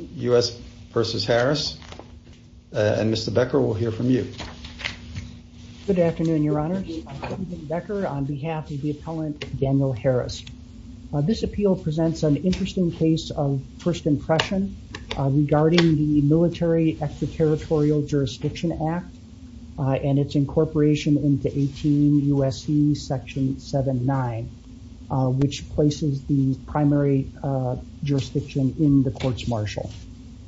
This appeal presents an interesting case of first impression regarding the military extraterritorial jurisdiction act and its incorporation into 18 U.S.C. section 7-9 which places the primary jurisdiction in the court's marshal.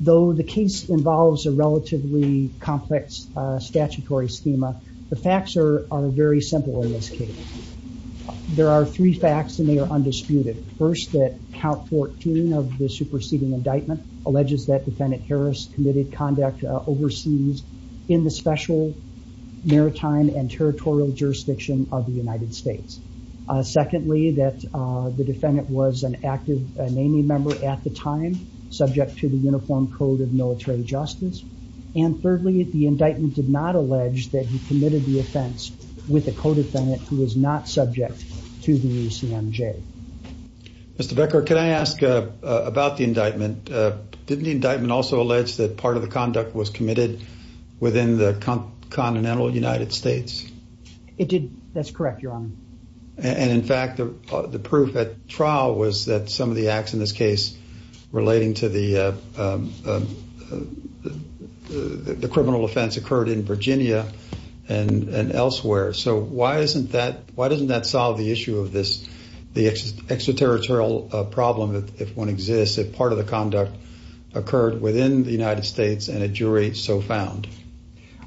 Though the case involves a relatively complex statutory schema, the facts are very simple in this case. There are three facts and they are undisputed. First, that count 14 of the superseding indictment alleges that defendant Harris committed conduct overseas in the special maritime and territorial jurisdiction of the United States. Secondly, that the defendant was an active NAMI member at the time, subject to the Uniform Code of Military Justice. And thirdly, the indictment did not allege that he committed the offense with a co-defendant who was not subject to the UCMJ. Mr. Becker, can I ask about the indictment? Didn't the indictment also allege that part of the conduct was committed within the continental United States? It did. That's correct, Your Honor. And in fact, the proof at trial was that some of the acts in this case relating to the criminal offense occurred in Virginia and elsewhere. So why isn't that, why doesn't that solve the issue of this, the extraterritorial problem if one exists, if part of the conduct occurred within the United States and a jury so found?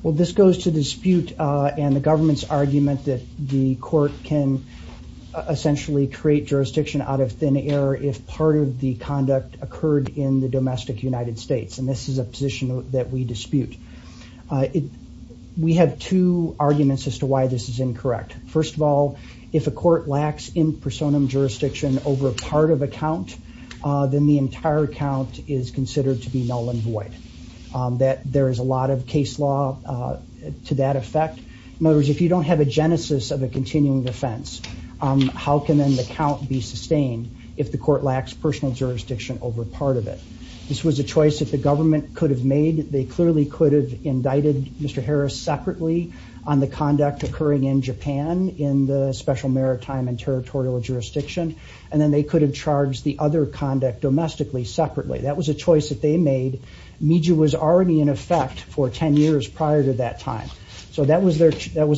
Well, this goes to dispute and the government's argument that the court can essentially create jurisdiction out of thin air if part of the conduct occurred in the domestic United States. And this is a position that we dispute. We have two arguments as to why this is incorrect. First of all, if a court lacks in personam jurisdiction over part of a count, then the case law to that effect. In other words, if you don't have a genesis of a continuing defense, how can then the count be sustained if the court lacks personal jurisdiction over part of it? This was a choice that the government could have made. They clearly could have indicted Mr. Harris separately on the conduct occurring in Japan in the Special Maritime and Territorial Jurisdiction, and then they could have charged the other conduct domestically separately. That was a choice that they made. Miju was already in effect for 10 years prior to that time. So that was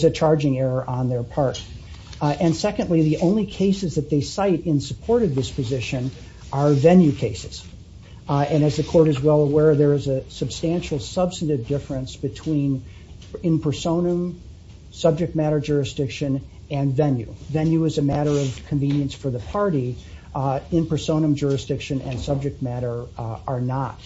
a charging error on their part. And secondly, the only cases that they cite in support of this position are venue cases. And as the court is well aware, there is a substantial substantive difference between in personam, subject matter jurisdiction, and venue. Venue is a matter of convenience for the party. In personam jurisdiction and subject matter are not.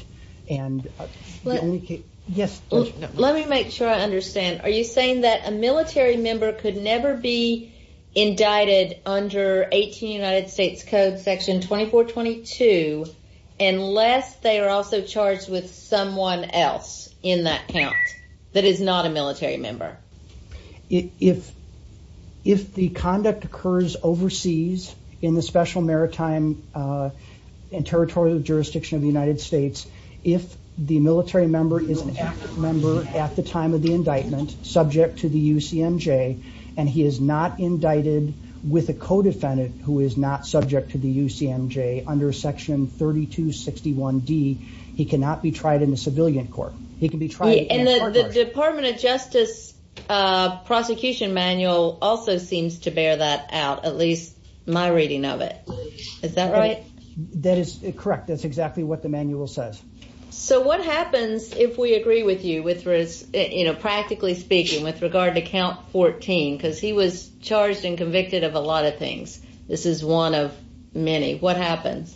Let me make sure I understand. Are you saying that a military member could never be indicted under 18 United States Code section 2422, unless they are also charged with someone else in that count that is not a military member? Correct. If the conduct occurs overseas in the Special Maritime and Territorial Jurisdiction of the United States, if the military member is an active member at the time of the indictment subject to the UCMJ, and he is not indicted with a co-defendant who is not subject to the UCMJ under section 3261D, he cannot be tried in a civilian court. And the Department of Justice prosecution manual also seems to bear that out, at least my reading of it. Is that right? That is correct. That's exactly what the manual says. So what happens if we agree with you, practically speaking, with regard to count 14? Because he was charged and convicted of a lot of things. This is one of many. What happens?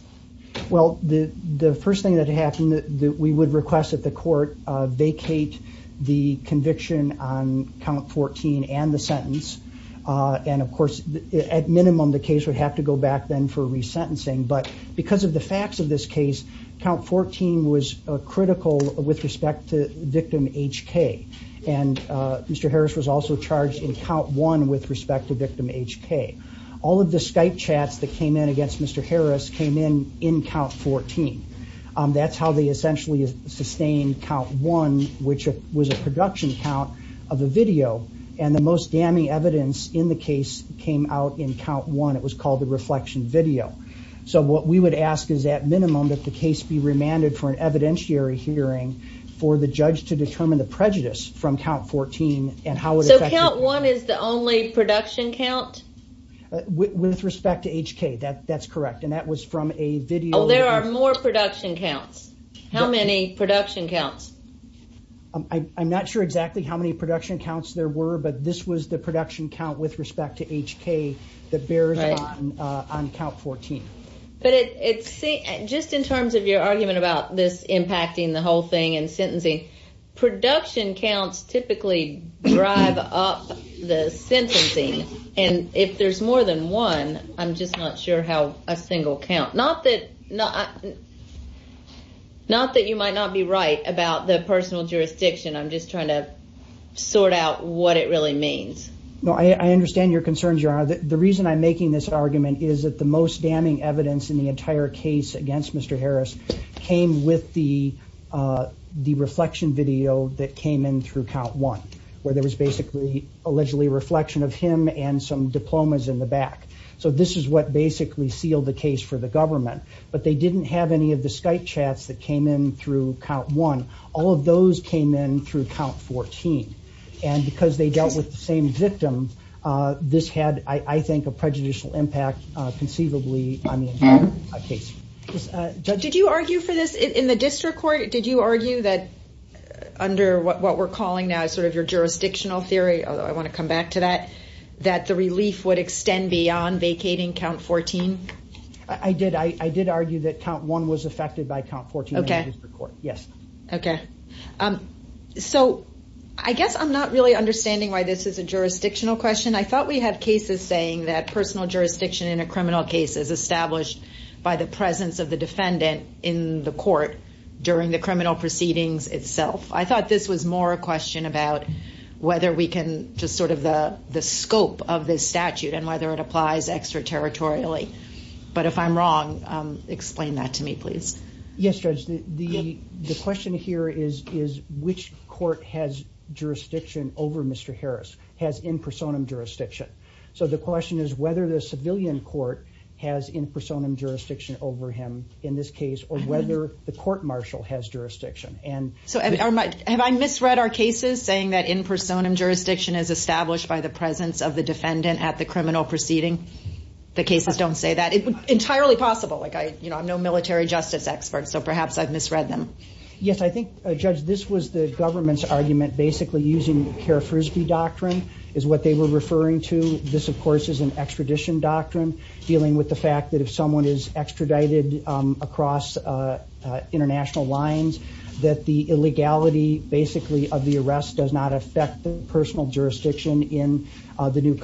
Well, the first thing that happened, we would request that the court vacate the conviction on count 14 and the sentence. And of course, at minimum, the case would have to go back then for resentencing. But because of the facts of this case, count 14 was critical with respect to victim HK. And Mr. Harris was also charged in count 1 with respect to count 14. That's how they essentially sustained count 1, which was a production count of the video. And the most damning evidence in the case came out in count 1. It was called the reflection video. So what we would ask is, at minimum, that the case be remanded for an evidentiary hearing for the judge to determine the prejudice from count 14 and how it affected... So count 1 is the only production count? With respect to HK, that's correct. And that was from a video... Oh, there are more production counts. How many production counts? I'm not sure exactly how many production counts there were, but this was the production count with respect to HK that bears on count 14. But just in terms of your argument about this impacting the whole thing and sentencing, production counts typically drive up the sentencing. And if there's more than one, I'm just not sure how a single count... Not that you might not be right about the personal jurisdiction. I'm just trying to sort out what it really means. No, I understand your concerns, Your Honor. The reason I'm making this argument is that the most damning evidence in the entire case against Mr. Harris came with the reflection video that came in through count 1, where there was basically allegedly a reflection of him and some diplomas in the back. So this is what basically sealed the case for the government. But they didn't have any of the Skype chats that came in through count 1. All of those came in through count 14. And because they dealt with the same victim, this had, I think, a prejudicial impact conceivably on the entire case. Did you argue for this in the district court? Did you argue that under what we're calling now is sort of your jurisdictional theory, although I want to come back to that, that the relief would extend beyond vacating count 14? I did. I did argue that count 1 was affected by count 14 in the district court. Yes. Okay. So I guess I'm not really understanding why this is a jurisdictional question. I thought we had cases saying that personal jurisdiction in a criminal case is established by the presence of the defendant in the court during the criminal proceedings itself. I thought this was more a question about whether we can just sort of the scope of this statute and whether it applies extraterritorially. But if I'm wrong, explain that to me, please. Yes, Judge. The question here is which court has jurisdiction over Mr. Harris, has in personam jurisdiction. So the question is whether the civilian court has in personam jurisdiction over him in this case or whether the court-martial has jurisdiction. Have I misread our cases saying that in personam jurisdiction is established by the presence of the defendant at the Yes, I think, Judge, this was the government's argument basically using Kerr-Frisbee doctrine is what they were referring to. This, of course, is an extradition doctrine dealing with the fact that if someone is extradited across international lines, that the illegality basically of the arrest does not affect the personal jurisdiction in the new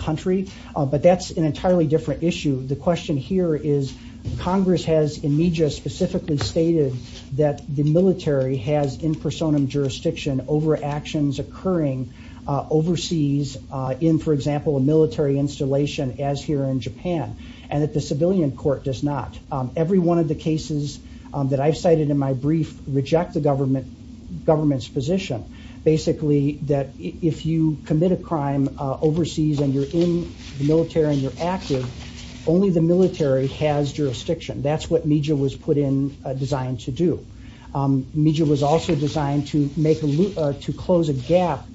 that the military has in personam jurisdiction over actions occurring overseas in, for example, a military installation as here in Japan and that the civilian court does not. Every one of the cases that I've cited in my brief reject the government's position basically that if you commit a crime overseas and you're in the military and you're active, only the Miju was also designed to close a gap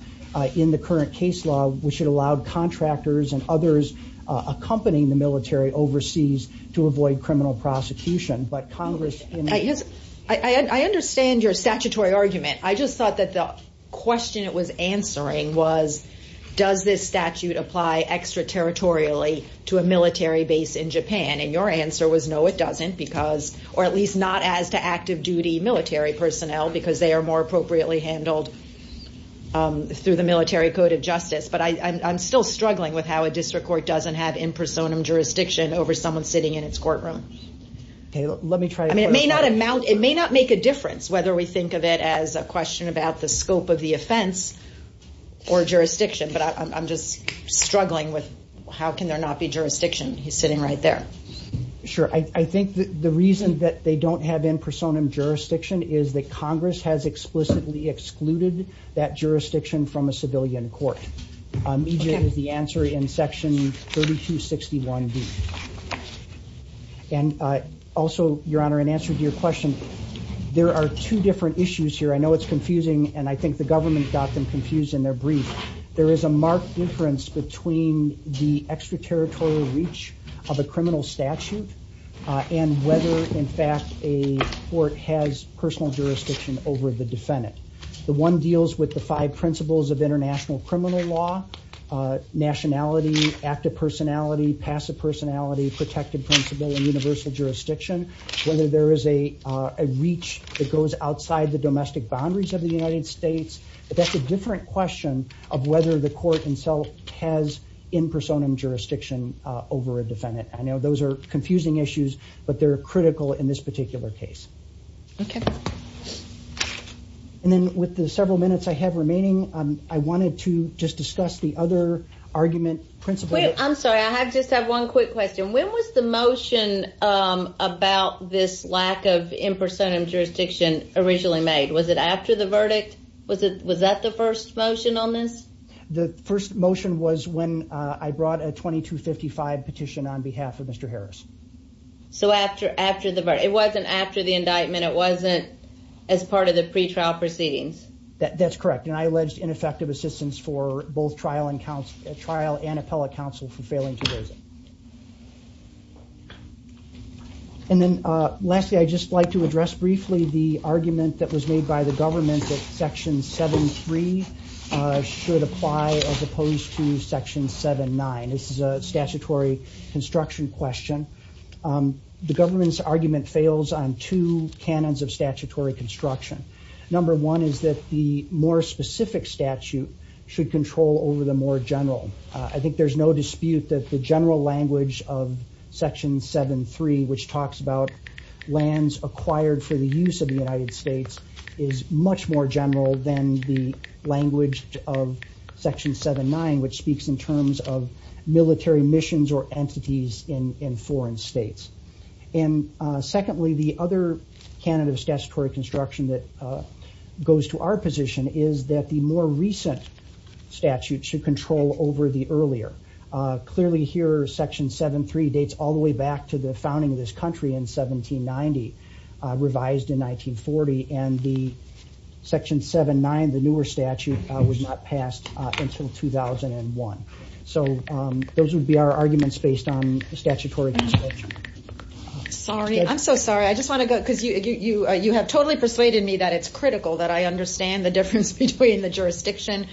in the current case law, which it allowed contractors and others accompanying the military overseas to avoid criminal prosecution. But Congress, I understand your statutory argument. I just thought that the question it was answering was, does this statute apply extraterritorially to a military base in Japan? And your answer was, no, it doesn't because, or at least not as to active duty military personnel because they are more appropriately handled through the military code of justice. But I'm still struggling with how a district court doesn't have in personam jurisdiction over someone sitting in its courtroom. It may not make a difference whether we think of it as a question about the scope of the offense or jurisdiction, but I'm just sure. I think that the reason that they don't have in personam jurisdiction is that Congress has explicitly excluded that jurisdiction from a civilian court. Miju is the answer in section 3261B. And also, Your Honor, in answer to your question, there are two different issues here. I know it's confusing and I think the government got them confused in their brief. There is a marked difference between the extraterritorial reach of a criminal statute and whether, in fact, a court has personal jurisdiction over the defendant. The one deals with the five principles of international criminal law, nationality, active personality, passive personality, protected principle, and universal jurisdiction. Whether there is a reach that goes outside the domestic boundaries of the United States. That's a different question of whether the court itself has in personam jurisdiction over a defendant. I know those are confusing issues, but they're critical in this particular case. Okay. And then with the several minutes I have remaining, I wanted to just discuss the other argument. I'm sorry, I just have one quick question. When was the motion about this lack of in personam jurisdiction originally made? Was it after the verdict? Was that the first motion on this? The first motion was when I brought a 2255 petition on behalf of Mr. Harris. So after the verdict. It wasn't after the indictment. It wasn't as part of the pretrial proceedings. That's correct. And I alleged ineffective assistance for both trial and appellate counsel for failing to raise it. And then lastly, I'd just like to address briefly the argument that was made by the government that section 73 should apply as opposed to section 79. This is a statutory construction question. The government's argument fails on two canons of statutory construction. Number one is that the more specific statute should control over the more general. I think there's no dispute that the general language of section 73, which talks about lands acquired for the use of the United States, is much more general than the language of section 79, which speaks in terms of military missions or entities in foreign states. And secondly, the other canon of statutory construction that goes to our position is that the more recent statute should control over the earlier. Clearly here, section 73 dates all the way back to the founding of this country in 1790, revised in 1940, and the section 79, the newer statute, was not passed until 2001. So those would be our arguments based on statutory construction. Sorry. I'm so sorry. I just want to go because you have totally persuaded me that it's critical that I understand the difference between the jurisdiction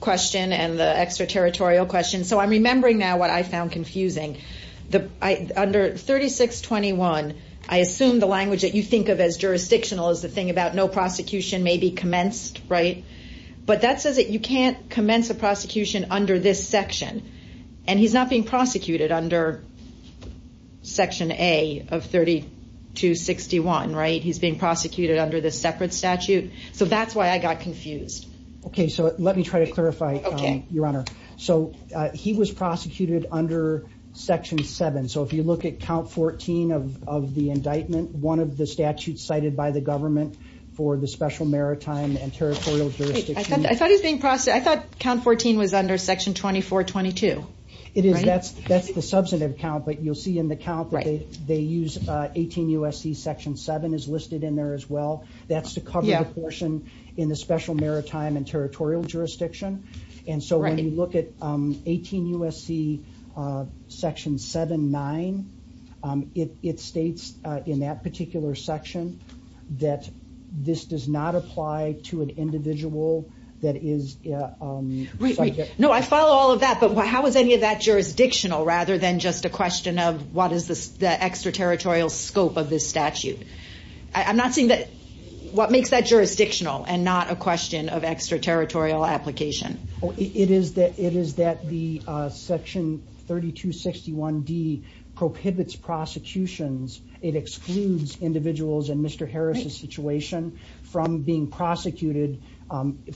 question and the extraterritorial question. So I'm remembering now what I found confusing. Under 3621, I assume the language that you think of as jurisdictional is the thing about no prosecution may be commenced. But that says that you can't commence a prosecution under this section. And he's not being prosecuted under section A of 3261. He's being prosecuted under this separate statute. So that's why I got confused. OK, so let me try to clarify, Your Honor. So he was prosecuted under section 7. So if you look at count 14 of the indictment, one of the statutes cited by the government for the Special Maritime and Territorial Jurisdiction. I thought he was being prosecuted. I thought count 14 was under section 2422. It is. That's the substantive count. But you'll see in the count that they use 18 U.S.C. section 7 is listed in there as well. That's to cover the portion in the Special Maritime and Territorial Jurisdiction. And so when you look at 18 U.S.C. section 7-9, it states in that particular section that this does not apply to an individual that is subject. No, I follow all of that. But how is any of that jurisdictional rather than just a question of what is the extraterritorial scope of this statute? I'm not seeing that. What makes that jurisdictional and not a question of extraterritorial application? It is that it is that the section 3261D prohibits prosecutions. It excludes individuals in Mr. Harris's situation from being prosecuted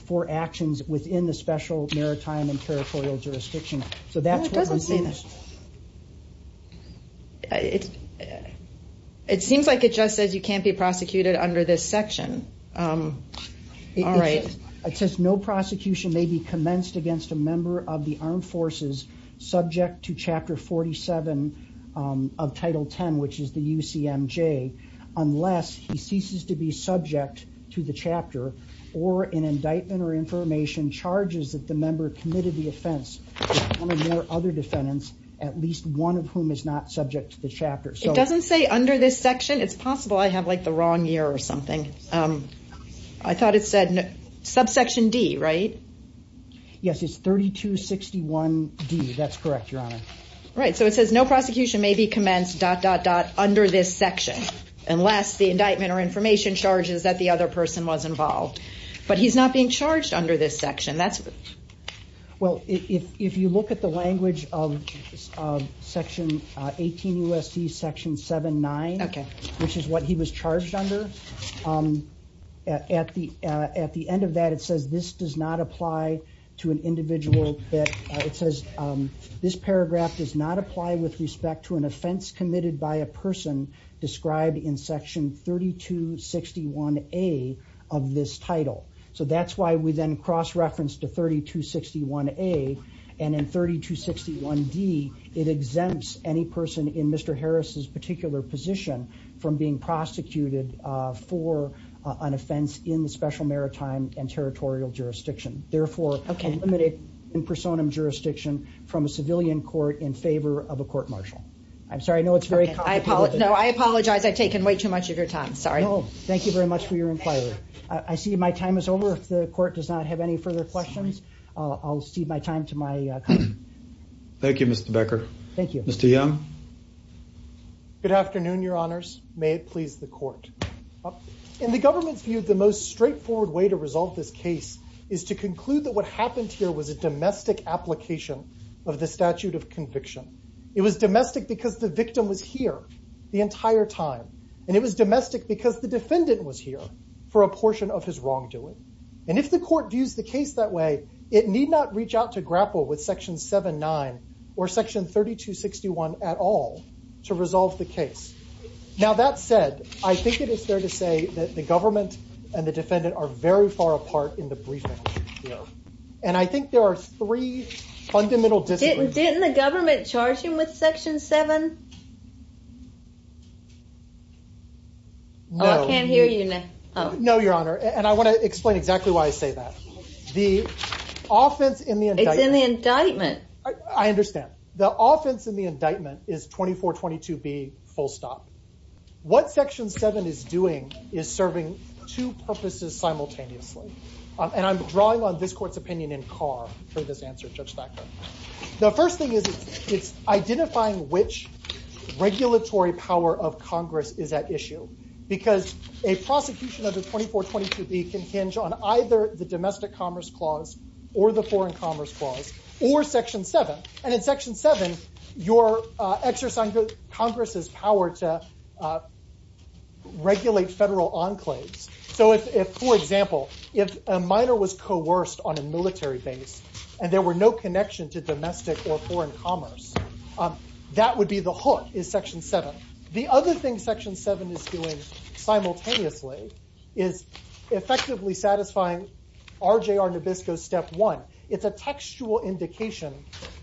for actions within the Special Maritime and Territorial Jurisdiction. It seems like it just says you can't be prosecuted under this section. It says no prosecution may be commenced against a member of the armed forces subject to Chapter 47 of Title 10, which is the UCMJ, unless he ceases to be subject to the chapter or an indictment or information charges that the member committed the offense. There are other defendants, at least one of whom is not subject to the chapter. It doesn't say under this section. It's possible I have like the wrong year or something. I thought it said subsection D, right? Yes, it's 3261D. That's correct, Your Honor. All right. So it says no prosecution may be commenced dot, dot, dot under this section, unless the indictment or information charges that the other person was involved. But he's not being charged under this section. Well, if you look at the language of Section 18 U.S.C. Section 7-9, which is what he was charged under, at the at the end of that, it says this does not apply to an individual. It says this paragraph does not apply with respect to an offense committed by a person described in Section 3261A of this title. So that's why we then cross reference to 3261A. And in 3261D, it exempts any person in Mr. Harris's particular position from being prosecuted for an offense in the Special Maritime and Territorial Jurisdiction. Therefore, eliminate in personam jurisdiction from a civilian court in favor of a court-martial. I'm sorry. I know it's very complicated. No, I apologize. I've taken way too much of your time. Sorry. No, thank you very much for your inquiry. I see my time is over. If the court does not have any further questions, I'll cede my time to my colleague. Thank you, Mr. Becker. Thank you. Mr. Young? Good afternoon, Your Honors. May it please the court. In the government's view, the most straightforward way to resolve this case is to conclude that what happened here was a domestic application of the statute of conviction. It was domestic because the victim was here the entire time. And it was domestic because the defendant was here for a portion of his wrongdoing. And if the court views the case that way, it need not reach out to grapple with Section 7-9 or Section 3261 at all to resolve the case. Now, that said, I think it is fair to say that the government and the defendant are very far apart in the briefing. And I think there are three fundamental disagreements. Didn't the government charge him with Section 7? No. I can't hear you now. No, Your Honor. And I want to explain exactly why I say that. The offense in the indictment. It's in the indictment. I understand. The offense in the indictment is 2422B, full stop. What Section 7 is doing is serving two purposes simultaneously. And I'm drawing on this court's opinion in Carr for this answer, Judge Thacker. The first thing is it's identifying which regulatory power of Congress is at issue. Because a prosecution under 2422B can hinge on either the domestic commerce clause or the foreign commerce clause or Section 7. And in Section 7, you're exercising Congress's power to regulate federal enclaves. So if, for example, if a minor was coerced on a military base and there were no connection to domestic or foreign commerce, that would be the hook is Section 7. The other thing Section 7 is doing simultaneously is effectively satisfying RJR Nabisco Step 1. It's a textual indication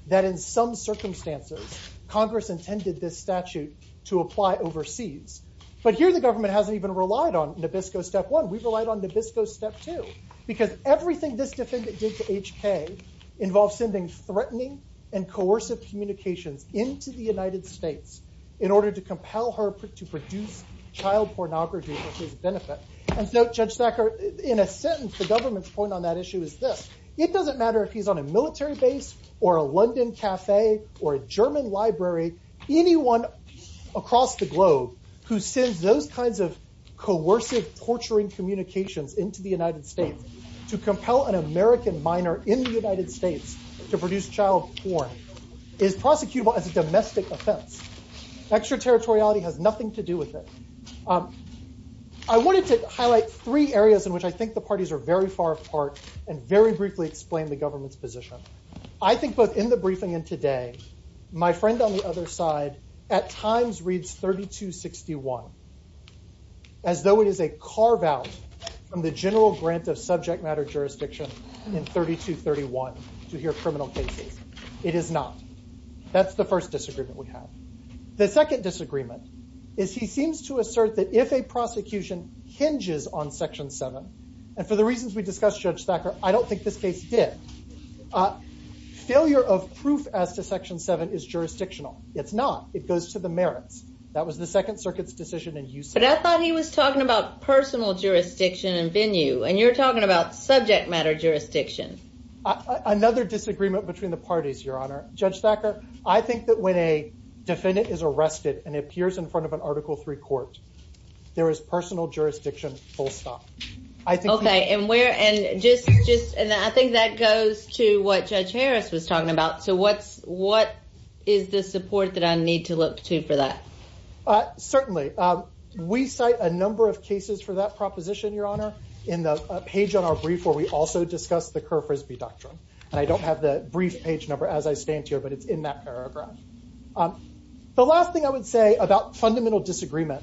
that in some circumstances Congress intended this statute to apply overseas. But here the government hasn't even relied on Nabisco Step 1. We've relied on Nabisco Step 2. Because everything this defendant did to HK involves sending threatening and coercive communications into the United States in order to compel her to produce child pornography for his benefit. And so, Judge Thacker, in a sentence, the government's point on that issue is this. It doesn't matter if he's on a military base or a London cafe or a German library. Anyone across the globe who sends those kinds of coercive, torturing communications into the United States to compel an American minor in the United States to produce child porn is prosecutable as a domestic offense. Extraterritoriality has nothing to do with it. I wanted to highlight three areas in which I think the parties are very far apart and very briefly explain the government's position. I think both in the briefing and today, my friend on the other side at times reads 3261 as though it is a carve out from the general grant of subject matter jurisdiction in 3231 to hear criminal cases. It is not. That's the first disagreement we have. The second disagreement is he seems to assert that if a prosecution hinges on Section 7, and for the reasons we discussed, Judge Thacker, I don't think this case did. Failure of proof as to Section 7 is jurisdictional. It's not. It goes to the merits. That was the Second Circuit's decision. But I thought he was talking about personal jurisdiction and venue, and you're talking about subject matter jurisdiction. Another disagreement between the parties, Your Honor. Judge Thacker, I think that when a defendant is arrested and appears in front of an Article III court, there is personal jurisdiction full stop. Okay. And I think that goes to what Judge Harris was talking about. So what is the support that I need to look to for that? Certainly. We cite a number of cases for that proposition, Your Honor, in the page on our brief where we also discuss the Kerr-Frisbee Doctrine. And I don't have the brief page number as I stand here, but it's in that paragraph. The last thing I would say about fundamental disagreement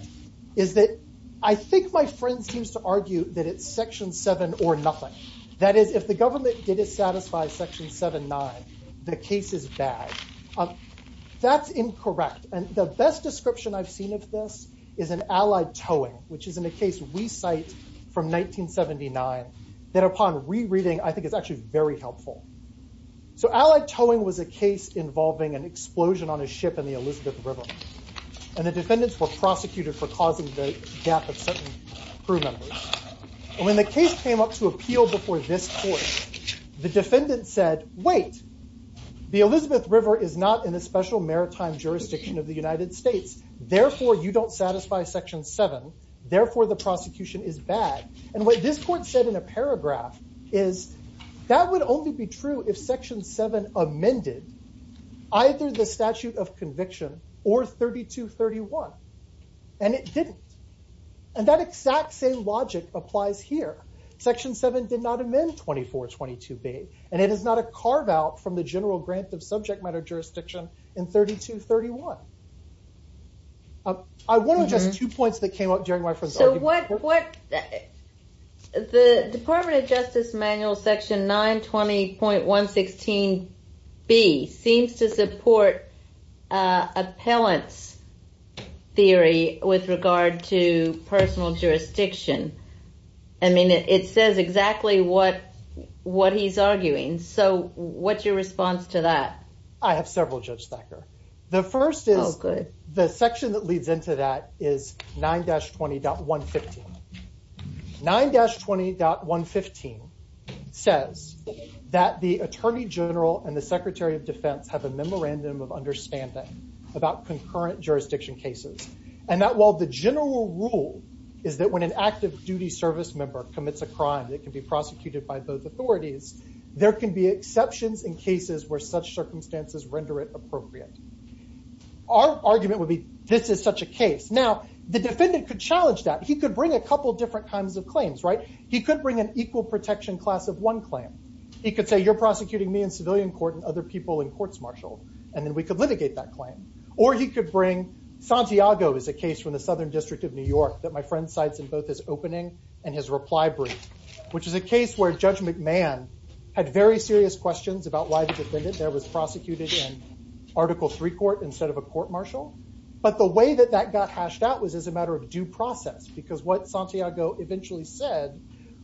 is that I think my friend seems to argue that it's Section 7 or nothing. That is, if the government didn't satisfy Section 7-9, the case is bad. That's incorrect. And the best description I've seen of this is in Allied Towing, which is in a case we cite from 1979 that upon rereading, I think is actually very helpful. So Allied Towing was a case involving an explosion on a ship in the Elizabeth River. And the defendants were prosecuted for causing the death of certain crew members. When the case came up to appeal before this court, the defendant said, wait, the Elizabeth River is not in a special maritime jurisdiction of the United States. Therefore, you don't satisfy Section 7. Therefore, the prosecution is bad. And what this court said in a paragraph is that would only be true if Section 7 amended either the statute of conviction or 32-31. And it didn't. And that exact same logic applies here. Section 7 did not amend 2422B, and it is not a carve-out from the general grant of subject matter jurisdiction in 32-31. I want to address two points that came up during my friend's argument. The Department of Justice Manual Section 920.116B seems to support appellant's theory with regard to personal jurisdiction. I mean, it says exactly what he's arguing. So what's your response to that? I have several, Judge Thacker. The first is the section that leads into that is 9-20.115. 9-20.115 says that the Attorney General and the Secretary of Defense have a memorandum of understanding about concurrent jurisdiction cases. And that while the general rule is that when an active duty service member commits a crime that can be prosecuted by both authorities, there can be exceptions in cases where such circumstances render it appropriate. Our argument would be, this is such a case. Now, the defendant could challenge that. He could bring a couple different kinds of claims, right? He could bring an equal protection class of one claim. He could say, you're prosecuting me in civilian court and other people in courts martial. And then we could litigate that claim. Or he could bring, Santiago is a case from the Southern District of New York that my friend cites in both his opening and his reply brief, which is a case where Judge McMahon had very serious questions about why the defendant there was prosecuted in Article III court instead of a court martial. But the way that that got hashed out was as a matter of due process, because what Santiago eventually said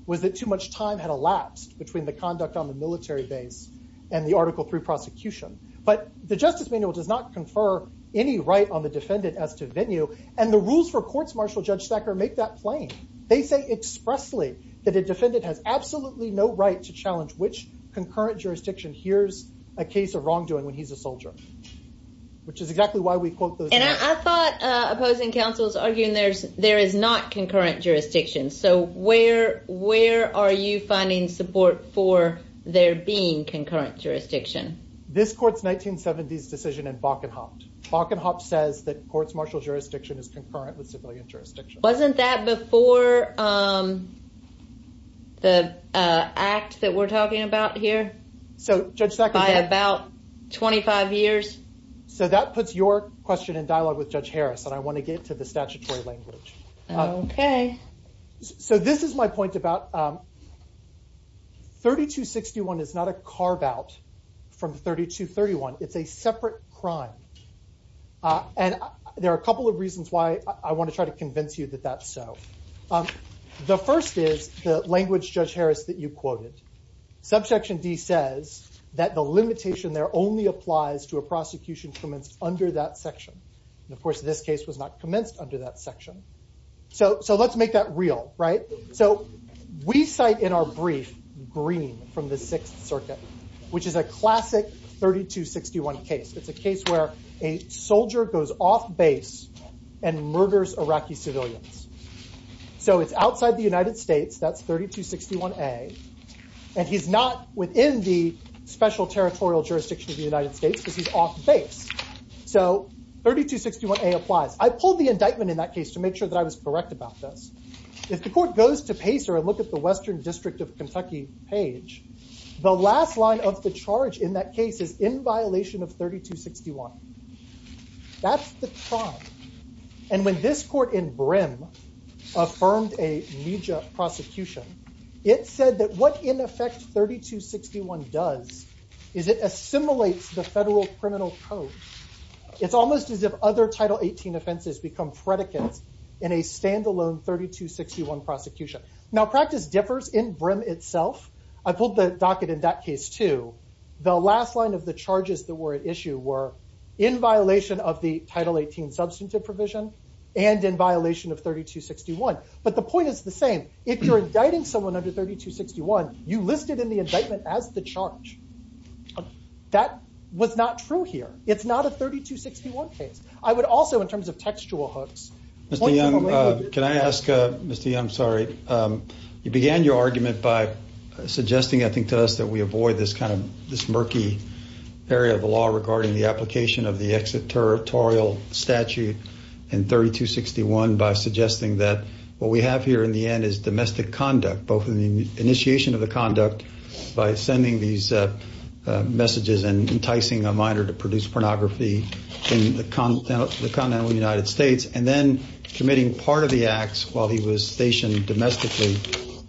was that too much time had elapsed between the conduct on the military base and the Article III prosecution. But the Justice Manual does not confer any right on the defendant as to venue. And the rules for courts martial, Judge Thacker, make that plain. They say expressly that a defendant has absolutely no right to challenge which concurrent jurisdiction hears a case of wrongdoing when he's a soldier, which is exactly why we quote those. And I thought opposing counsels arguing there is not concurrent jurisdiction. So where are you finding support for there being concurrent jurisdiction? This court's 1970s decision in Bakkenhaupt. Bakkenhaupt says that courts martial jurisdiction is concurrent with civilian jurisdiction. Wasn't that before the act that we're talking about here? So Judge Thacker. By about 25 years. So that puts your question in dialogue with Judge Harris. And I want to get to the statutory language. Okay. So this is my point about 3261 is not a carve out from 3231. It's a separate crime. And there are a couple of reasons why I want to try to convince you that that's so. The first is the language, Judge Harris, that you quoted. Subsection D says that the limitation there only applies to a prosecution commenced under that section. Of course, this case was not commenced under that section. So let's make that real, right? So we cite in our brief Green from the Sixth Circuit, which is a classic 3261 case. It's a case where a soldier goes off base and murders Iraqi civilians. So it's outside the United States. That's 3261A. And he's not within the special territorial jurisdiction of the United States because he's off base. So 3261A applies. I pulled the indictment in that case to make sure that I was correct about this. If the court goes to Pacer and look at the Western District of Kentucky page, the last line of the charge in that case is in violation of 3261. That's the crime. And when this court in Brim affirmed a media prosecution, it said that what, in effect, 3261 does is it assimilates the federal criminal code. It's almost as if other Title 18 offenses become predicates in a standalone 3261 prosecution. Now, practice differs in Brim itself. I pulled the docket in that case, too. The last line of the charges that were at issue were in violation of the Title 18 substantive provision and in violation of 3261. But the point is the same. If you're indicting someone under 3261, you list it in the indictment as the charge. That was not true here. It's not a 3261 case. I would also, in terms of textual hooks. Mr. Young, can I ask? Mr. Young, sorry. You began your argument by suggesting, I think, to us that we avoid this kind of murky area of the law regarding the application of the extraterritorial statute in 3261 by suggesting that what we have here in the end is domestic conduct, both in the initiation of the conduct by sending these messages and enticing a minor to produce pornography in the continental United States, and then committing part of the acts while he was stationed domestically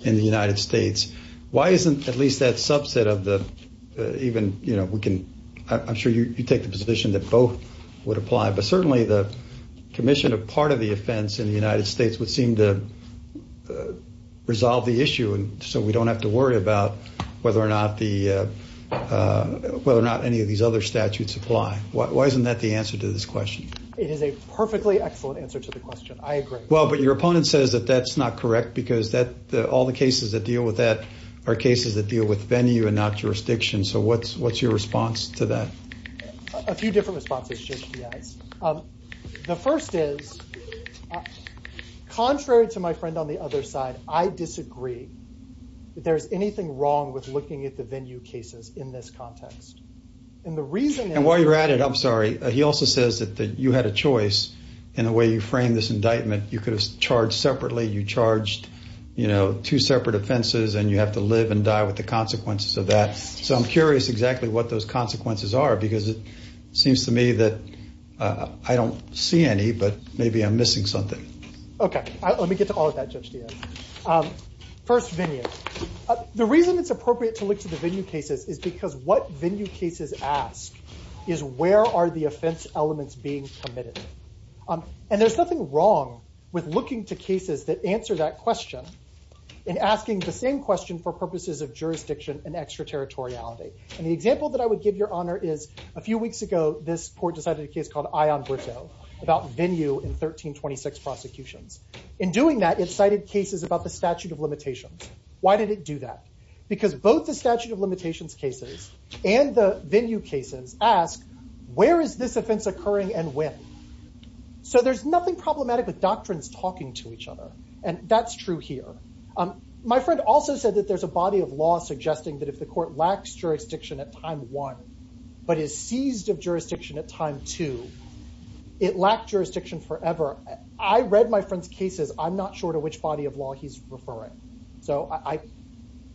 in the United States. Why isn't at least that subset of the even, you know, we can – I'm sure you take the position that both would apply. But certainly the commission of part of the offense in the United States would seem to resolve the issue so we don't have to worry about whether or not any of these other statutes apply. Why isn't that the answer to this question? It is a perfectly excellent answer to the question. I agree. Well, but your opponent says that that's not correct because all the cases that deal with that are cases that deal with venue and not jurisdiction. So what's your response to that? A few different responses to HDIs. The first is, contrary to my friend on the other side, I disagree that there's anything wrong with looking at the venue cases in this context. And the reason – And while you're at it, I'm sorry, he also says that you had a choice in the way you framed this indictment. You could have charged separately. You charged, you know, two separate offenses and you have to live and die with the consequences of that. So I'm curious exactly what those consequences are because it seems to me that I don't see any, but maybe I'm missing something. Okay. Let me get to all of that, Judge Diaz. First, venue. The reason it's appropriate to look to the venue cases is because what venue cases ask is where are the offense elements being committed? And there's nothing wrong with looking to cases that answer that question and asking the same question for purposes of jurisdiction and extraterritoriality. And the example that I would give, Your Honor, is a few weeks ago this court decided a case called Ion Brito about venue in 1326 prosecutions. In doing that, it cited cases about the statute of limitations. Why did it do that? Because both the statute of limitations cases and the venue cases ask where is this offense occurring and when? So there's nothing problematic with doctrines talking to each other. And that's true here. My friend also said that there's a body of law suggesting that if the court lacks jurisdiction at time one but is seized of jurisdiction at time two, it lacked jurisdiction forever. I read my friend's cases. I'm not sure to which body of law he's referring. So I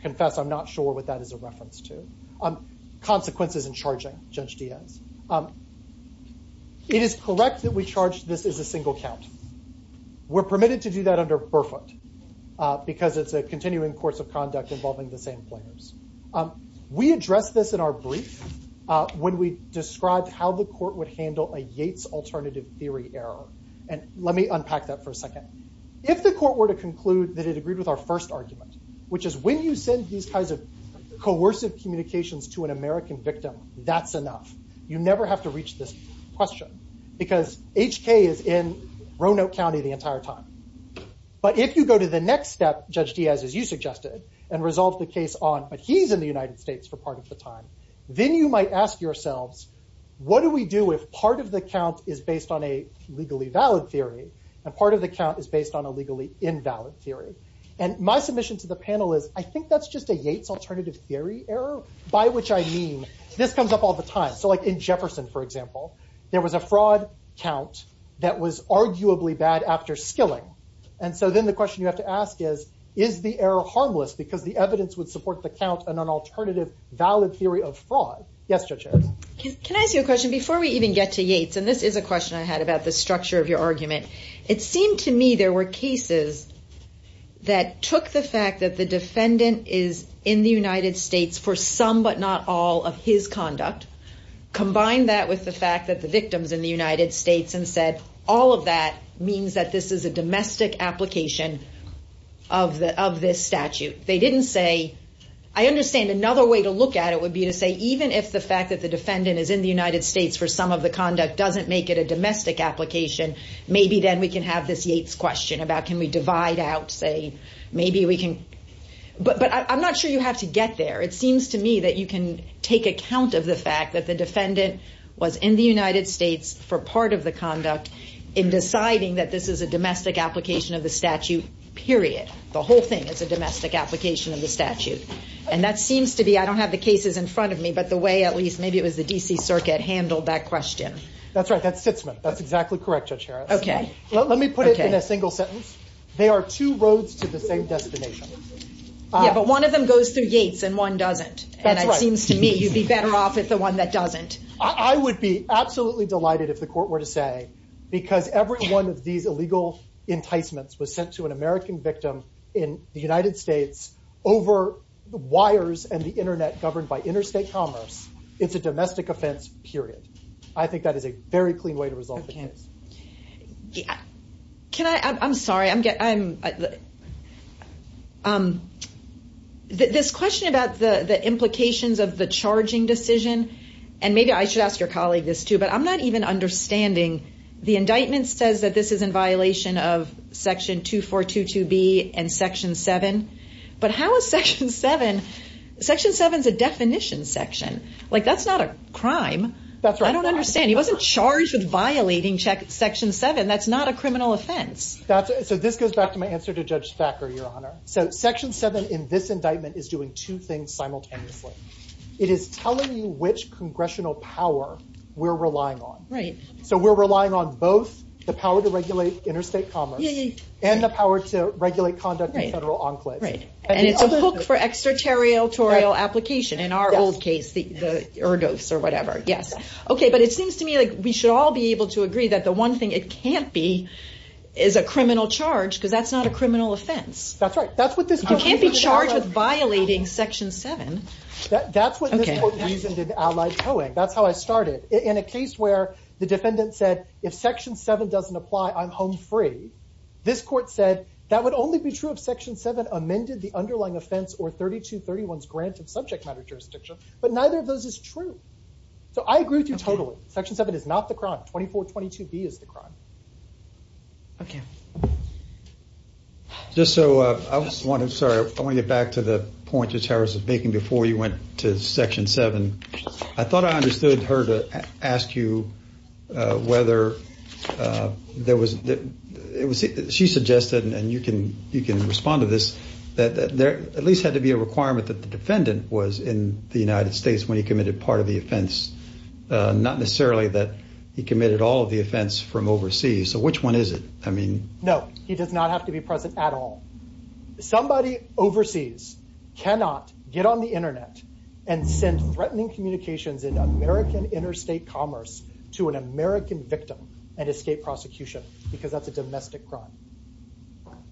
confess I'm not sure what that is a reference to. Consequences in charging, Judge Diaz. It is correct that we charge this as a single count. We're permitted to do that under Burfoot because it's a continuing course of conduct involving the same players. We addressed this in our brief when we described how the court would handle a Yates alternative theory error. And let me unpack that for a second. If the court were to conclude that it agreed with our first argument, which is when you send these kinds of coercive communications to an American victim, that's enough. You never have to reach this question because HK is in Roanoke County the entire time. But if you go to the next step, Judge Diaz, as you suggested, and resolve the case on, but he's in the United States for part of the time, then you might ask yourselves, what do we do if part of the count is based on a legally valid theory and part of the count is based on a legally invalid theory? And my submission to the panel is I think that's just a Yates alternative theory error, by which I mean this comes up all the time. So like in Jefferson, for example, there was a fraud count that was arguably bad after skilling. And so then the question you have to ask is, is the error harmless because the evidence would support the count and an alternative valid theory of fraud? Yes, Judge Harris. Can I ask you a question before we even get to Yates? And this is a question I had about the structure of your argument. It seemed to me there were cases that took the fact that the defendant is in the United States for some but not all of his conduct, combined that with the fact that the victim's in the United States and said, all of that means that this is a domestic application of this statute. They didn't say, I understand another way to look at it would be to say, even if the fact that the defendant is in the United States for some of the conduct doesn't make it a domestic application, maybe then we can have this Yates question about can we divide out, say, maybe we can. But I'm not sure you have to get there. It seems to me that you can take account of the fact that the defendant was in the United States for part of the conduct in deciding that this is a domestic application of the statute, period. The whole thing is a domestic application of the statute. And that seems to be, I don't have the cases in front of me, but the way at least maybe it was the DC Circuit handled that question. That's right. That's Sitzman. That's exactly correct, Judge Harris. OK. Let me put it in a single sentence. They are two roads to the same destination. Yeah, but one of them goes through Yates and one doesn't. That's right. And it seems to me you'd be better off with the one that doesn't. I would be absolutely delighted if the court were to say, because every one of these illegal enticements was sent to an American victim in the United States over the wires and the internet governed by interstate commerce, it's a domestic offense, period. I think that is a very clean way to resolve the case. Can I? I'm sorry. This question about the implications of the charging decision, and maybe I should ask your colleague this, too, but I'm not even understanding. The indictment says that this is in violation of Section 2422B and Section 7. But how is Section 7? Section 7 is a definition section. Like, that's not a crime. That's right. I don't understand. He wasn't charged with violating Section 7. That's not a criminal offense. So this goes back to my answer to Judge Thacker, Your Honor. So Section 7 in this indictment is doing two things simultaneously. It is telling you which congressional power we're relying on. Right. So we're relying on both the power to regulate interstate commerce and the power to regulate conduct in federal enclaves. Right. And it's a hook for extraterritorial application in our old case, the ergos or whatever. Yes. Okay, but it seems to me like we should all be able to agree that the one thing it can't be is a criminal charge because that's not a criminal offense. That's right. You can't be charged with violating Section 7. That's what this court reasoned in Allied Towing. That's how I started. In a case where the defendant said, if Section 7 doesn't apply, I'm home free, this court said that would only be true if Section 7 amended the underlying offense or 3231's grant of subject matter jurisdiction. But neither of those is true. So I agree with you totally. Okay. Section 7 is not the crime. 2422B is the crime. Okay. Just so I was wondering, sorry, I want to get back to the point Judge Harris was making before you went to Section 7. I thought I understood her to ask you whether there was, she suggested, and you can respond to this, that there at least had to be a requirement that the defendant was in the United States when he committed part of the offense, not necessarily that he committed all of the offense from overseas. So which one is it? No, he does not have to be present at all. Somebody overseas cannot get on the Internet and send threatening communications in American interstate commerce to an American victim and escape prosecution because that's a domestic crime.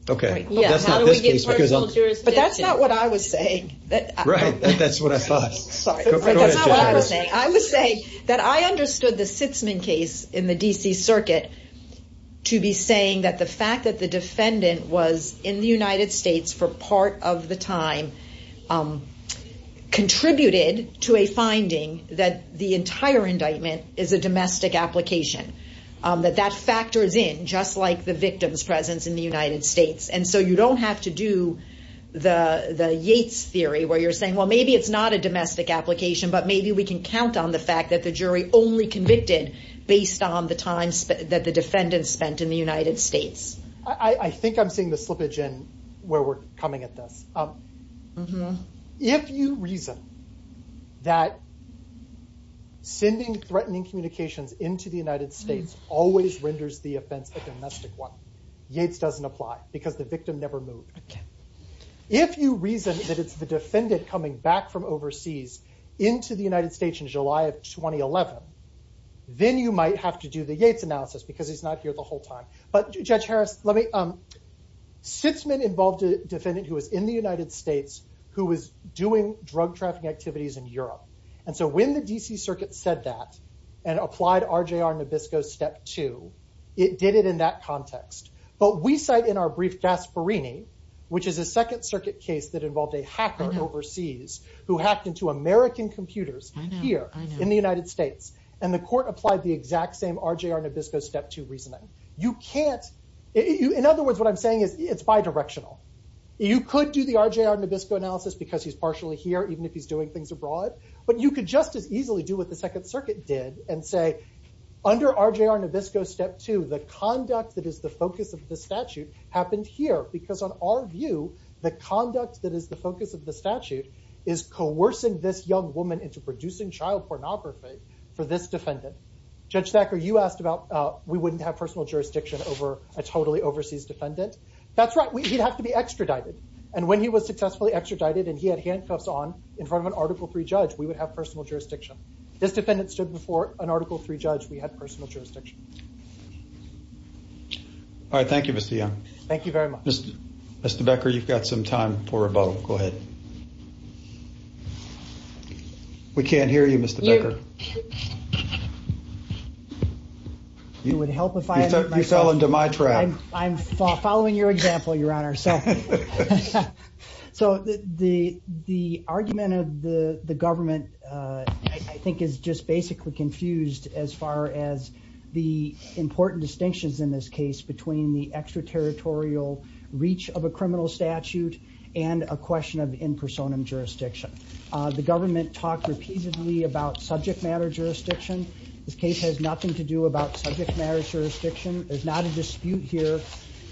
Okay. But that's not what I was saying. Right. That's what I thought. Sorry. That's not what I was saying. I was saying that I understood the Sitzman case in the D.C. Circuit to be saying that the fact that the defendant was in the United States for part of the time contributed to a finding that the entire indictment is a domestic application. That that factors in just like the victim's presence in the United States. And so you don't have to do the Yates theory where you're saying, well, maybe it's not a domestic application, but maybe we can count on the fact that the jury only convicted based on the time that the defendant spent in the United States. I think I'm seeing the slippage in where we're coming at this. If you reason that sending threatening communications into the United States always renders the offense a domestic one, Yates doesn't apply because the victim never moved. If you reason that it's the defendant coming back from overseas into the United States in July of 2011, then you might have to do the Yates analysis because he's not here the whole time. But Judge Harris, Sitzman involved a defendant who was in the United States who was doing drug trafficking activities in Europe. And so when the D.C. Circuit said that and applied RJR Nabisco step two, it did it in that context. But we cite in our brief Gasparini, which is a Second Circuit case that involved a hacker overseas who hacked into American computers here in the United States. And the court applied the exact same RJR Nabisco step two reasoning. In other words, what I'm saying is it's bidirectional. You could do the RJR Nabisco analysis because he's partially here, even if he's doing things abroad. But you could just as easily do what the Second Circuit did and say, under RJR Nabisco step two, the conduct that is the focus of the statute happened here. Because on our view, the conduct that is the focus of the statute is coercing this young woman into producing child pornography for this defendant. Judge Thacker, you asked about we wouldn't have personal jurisdiction over a totally overseas defendant. That's right. We have to be extradited. And when he was successfully extradited and he had handcuffs on in front of an Article three judge, we would have personal jurisdiction. This defendant stood before an Article three judge. We had personal jurisdiction. All right. Thank you, Mr. Young. Thank you very much, Mr. Becker. You've got some time for a vote. Go ahead. We can't hear you, Mr. Becker. You would help if I fell into my trap. I'm following your example, Your Honor. So the argument of the government, I think, is just basically confused as far as the important distinctions in this case between the extraterritorial reach of a criminal statute and a question of in personam jurisdiction. The government talked repeatedly about subject matter jurisdiction. This case has nothing to do about subject matter jurisdiction. There's not a dispute here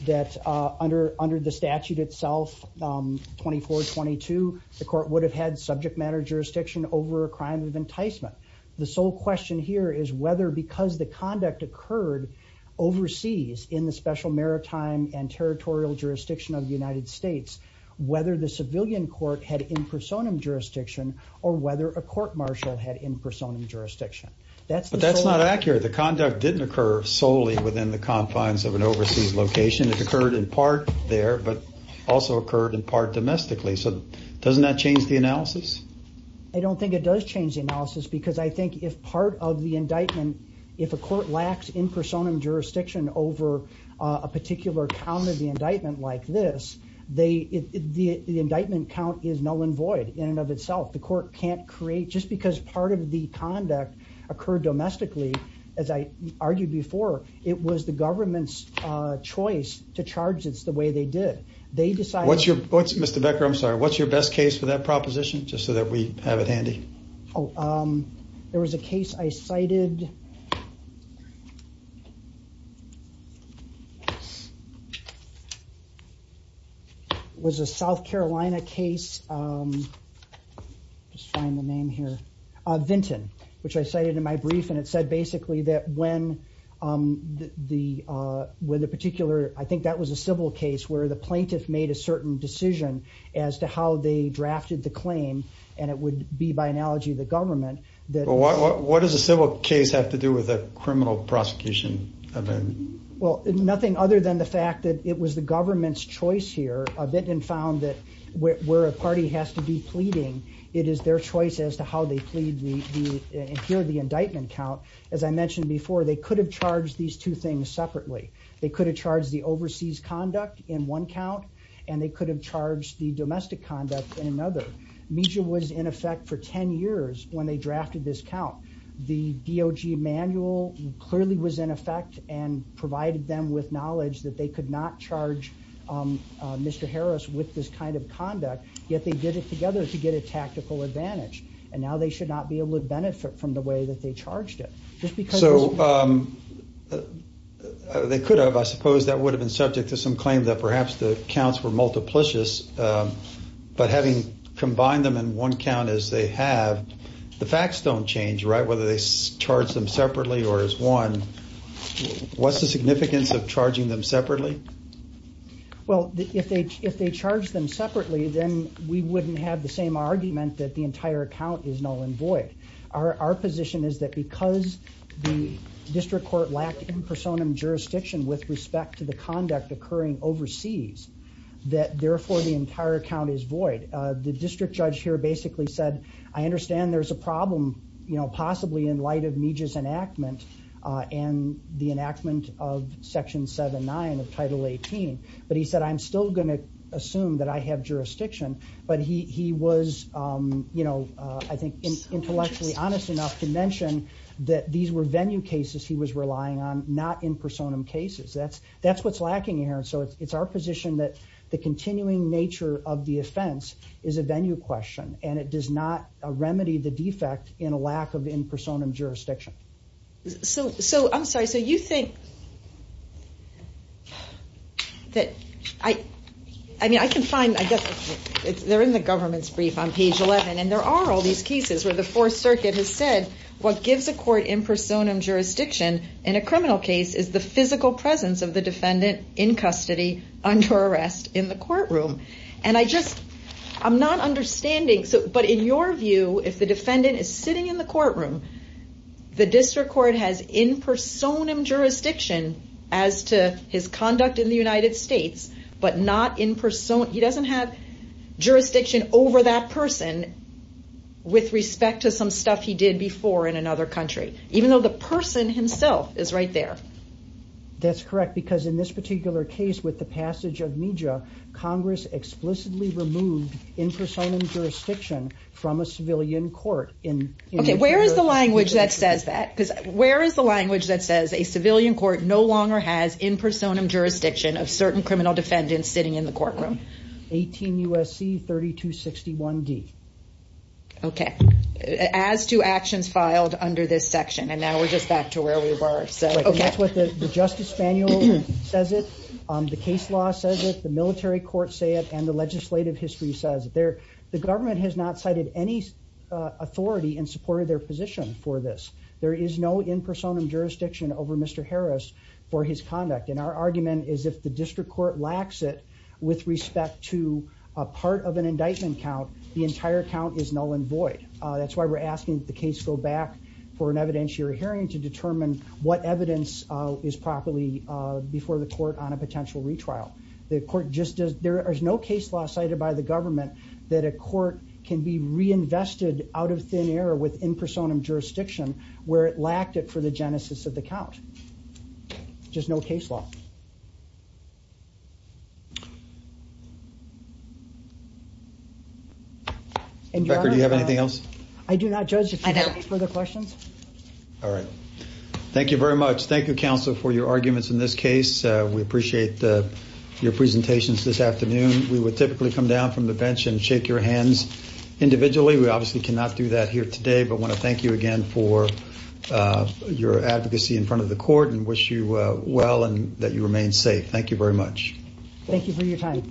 that under under the statute itself, 24-22, the court would have had subject matter jurisdiction over a crime of enticement. The sole question here is whether because the conduct occurred overseas in the special maritime and territorial jurisdiction of the United States, whether the civilian court had in personam jurisdiction or whether a court martial had in personam jurisdiction. But that's not accurate. The conduct didn't occur solely within the confines of an overseas location. It occurred in part there, but also occurred in part domestically. So doesn't that change the analysis? I don't think it does change the analysis because I think if part of the indictment, if a court lacks in personam jurisdiction over a particular count of the indictment like this, the indictment count is null and void in and of itself. The court can't create just because part of the conduct occurred domestically. As I argued before, it was the government's choice to charge. It's the way they did. Mr. Becker, I'm sorry. What's your best case for that proposition? Just so that we have it handy. Oh, there was a case I cited. Was a South Carolina case. Just trying to name here. Vinton, which I cited in my brief, and it said basically that when the when the particular, I think that was a civil case where the plaintiff made a certain decision as to how they drafted the claim. And it would be, by analogy, the government. What does a civil case have to do with a criminal prosecution? Well, nothing other than the fact that it was the government's choice here. Vinton found that where a party has to be pleading, it is their choice as to how they plead. Here, the indictment count, as I mentioned before, they could have charged these two things separately. They could have charged the overseas conduct in one count and they could have charged the domestic conduct in another. Meeja was in effect for 10 years when they drafted this count. The DOG manual clearly was in effect and provided them with knowledge that they could not charge Mr. Harris with this kind of conduct, yet they did it together to get a tactical advantage. And now they should not be able to benefit from the way that they charged it. So they could have. I suppose that would have been subject to some claim that perhaps the counts were multiplicious. But having combined them in one count as they have, the facts don't change. Right. Whether they charge them separately or as one. What's the significance of charging them separately? Well, if they if they charge them separately, then we wouldn't have the same argument that the entire account is null and void. Our position is that because the district court lacked in personam jurisdiction with respect to the conduct occurring overseas, that therefore the entire account is void. The district judge here basically said, I understand there's a problem, you know, possibly in light of Meeja's enactment and the enactment of Section 7-9 of Title 18. But he said, I'm still going to assume that I have jurisdiction. But he was, you know, I think intellectually honest enough to mention that these were venue cases he was relying on, not in personam cases. That's that's what's lacking here. So it's our position that the continuing nature of the offense is a venue question. And it does not remedy the defect in a lack of in personam jurisdiction. So so I'm sorry. So you think that I mean, I can find I guess they're in the government's brief on page 11. And there are all these cases where the Fourth Circuit has said what gives a court in personam jurisdiction in a criminal case is the physical presence of the defendant in custody under arrest in the courtroom. And I just I'm not understanding. But in your view, if the defendant is sitting in the courtroom, the district court has in personam jurisdiction as to his conduct in the United States, but not in personam. He doesn't have jurisdiction over that person with respect to some stuff he did before in another country, even though the person himself is right there. That's correct. Because in this particular case, with the passage of media, Congress explicitly removed in personam jurisdiction from a civilian court. And where is the language that says that? Because where is the language that says a civilian court no longer has in personam jurisdiction of certain criminal defendants sitting in the courtroom? 18 U.S.C. 3261 D. OK, as to actions filed under this section. And now we're just back to where we were. So that's what the justice manual says it. The case law says that the military courts say it. And the legislative history says there the government has not cited any authority in support of their position for this. There is no in personam jurisdiction over Mr. Harris for his conduct. And our argument is if the district court lacks it with respect to a part of an indictment count, the entire count is null and void. That's why we're asking the case go back for an evidentiary hearing to determine what evidence is properly before the court on a potential retrial. The court just does. There is no case law cited by the government that a court can be reinvested out of thin air with in personam jurisdiction where it lacked it for the genesis of the count. Just no case law. And do you have anything else? I do not judge for the questions. All right. Thank you very much. Thank you, counsel, for your arguments in this case. We appreciate your presentations this afternoon. We would typically come down from the bench and shake your hands individually. We obviously cannot do that here today, but want to thank you again for your advocacy in front of the court and wish you well and that you remain safe. Thank you very much. Thank you for your time.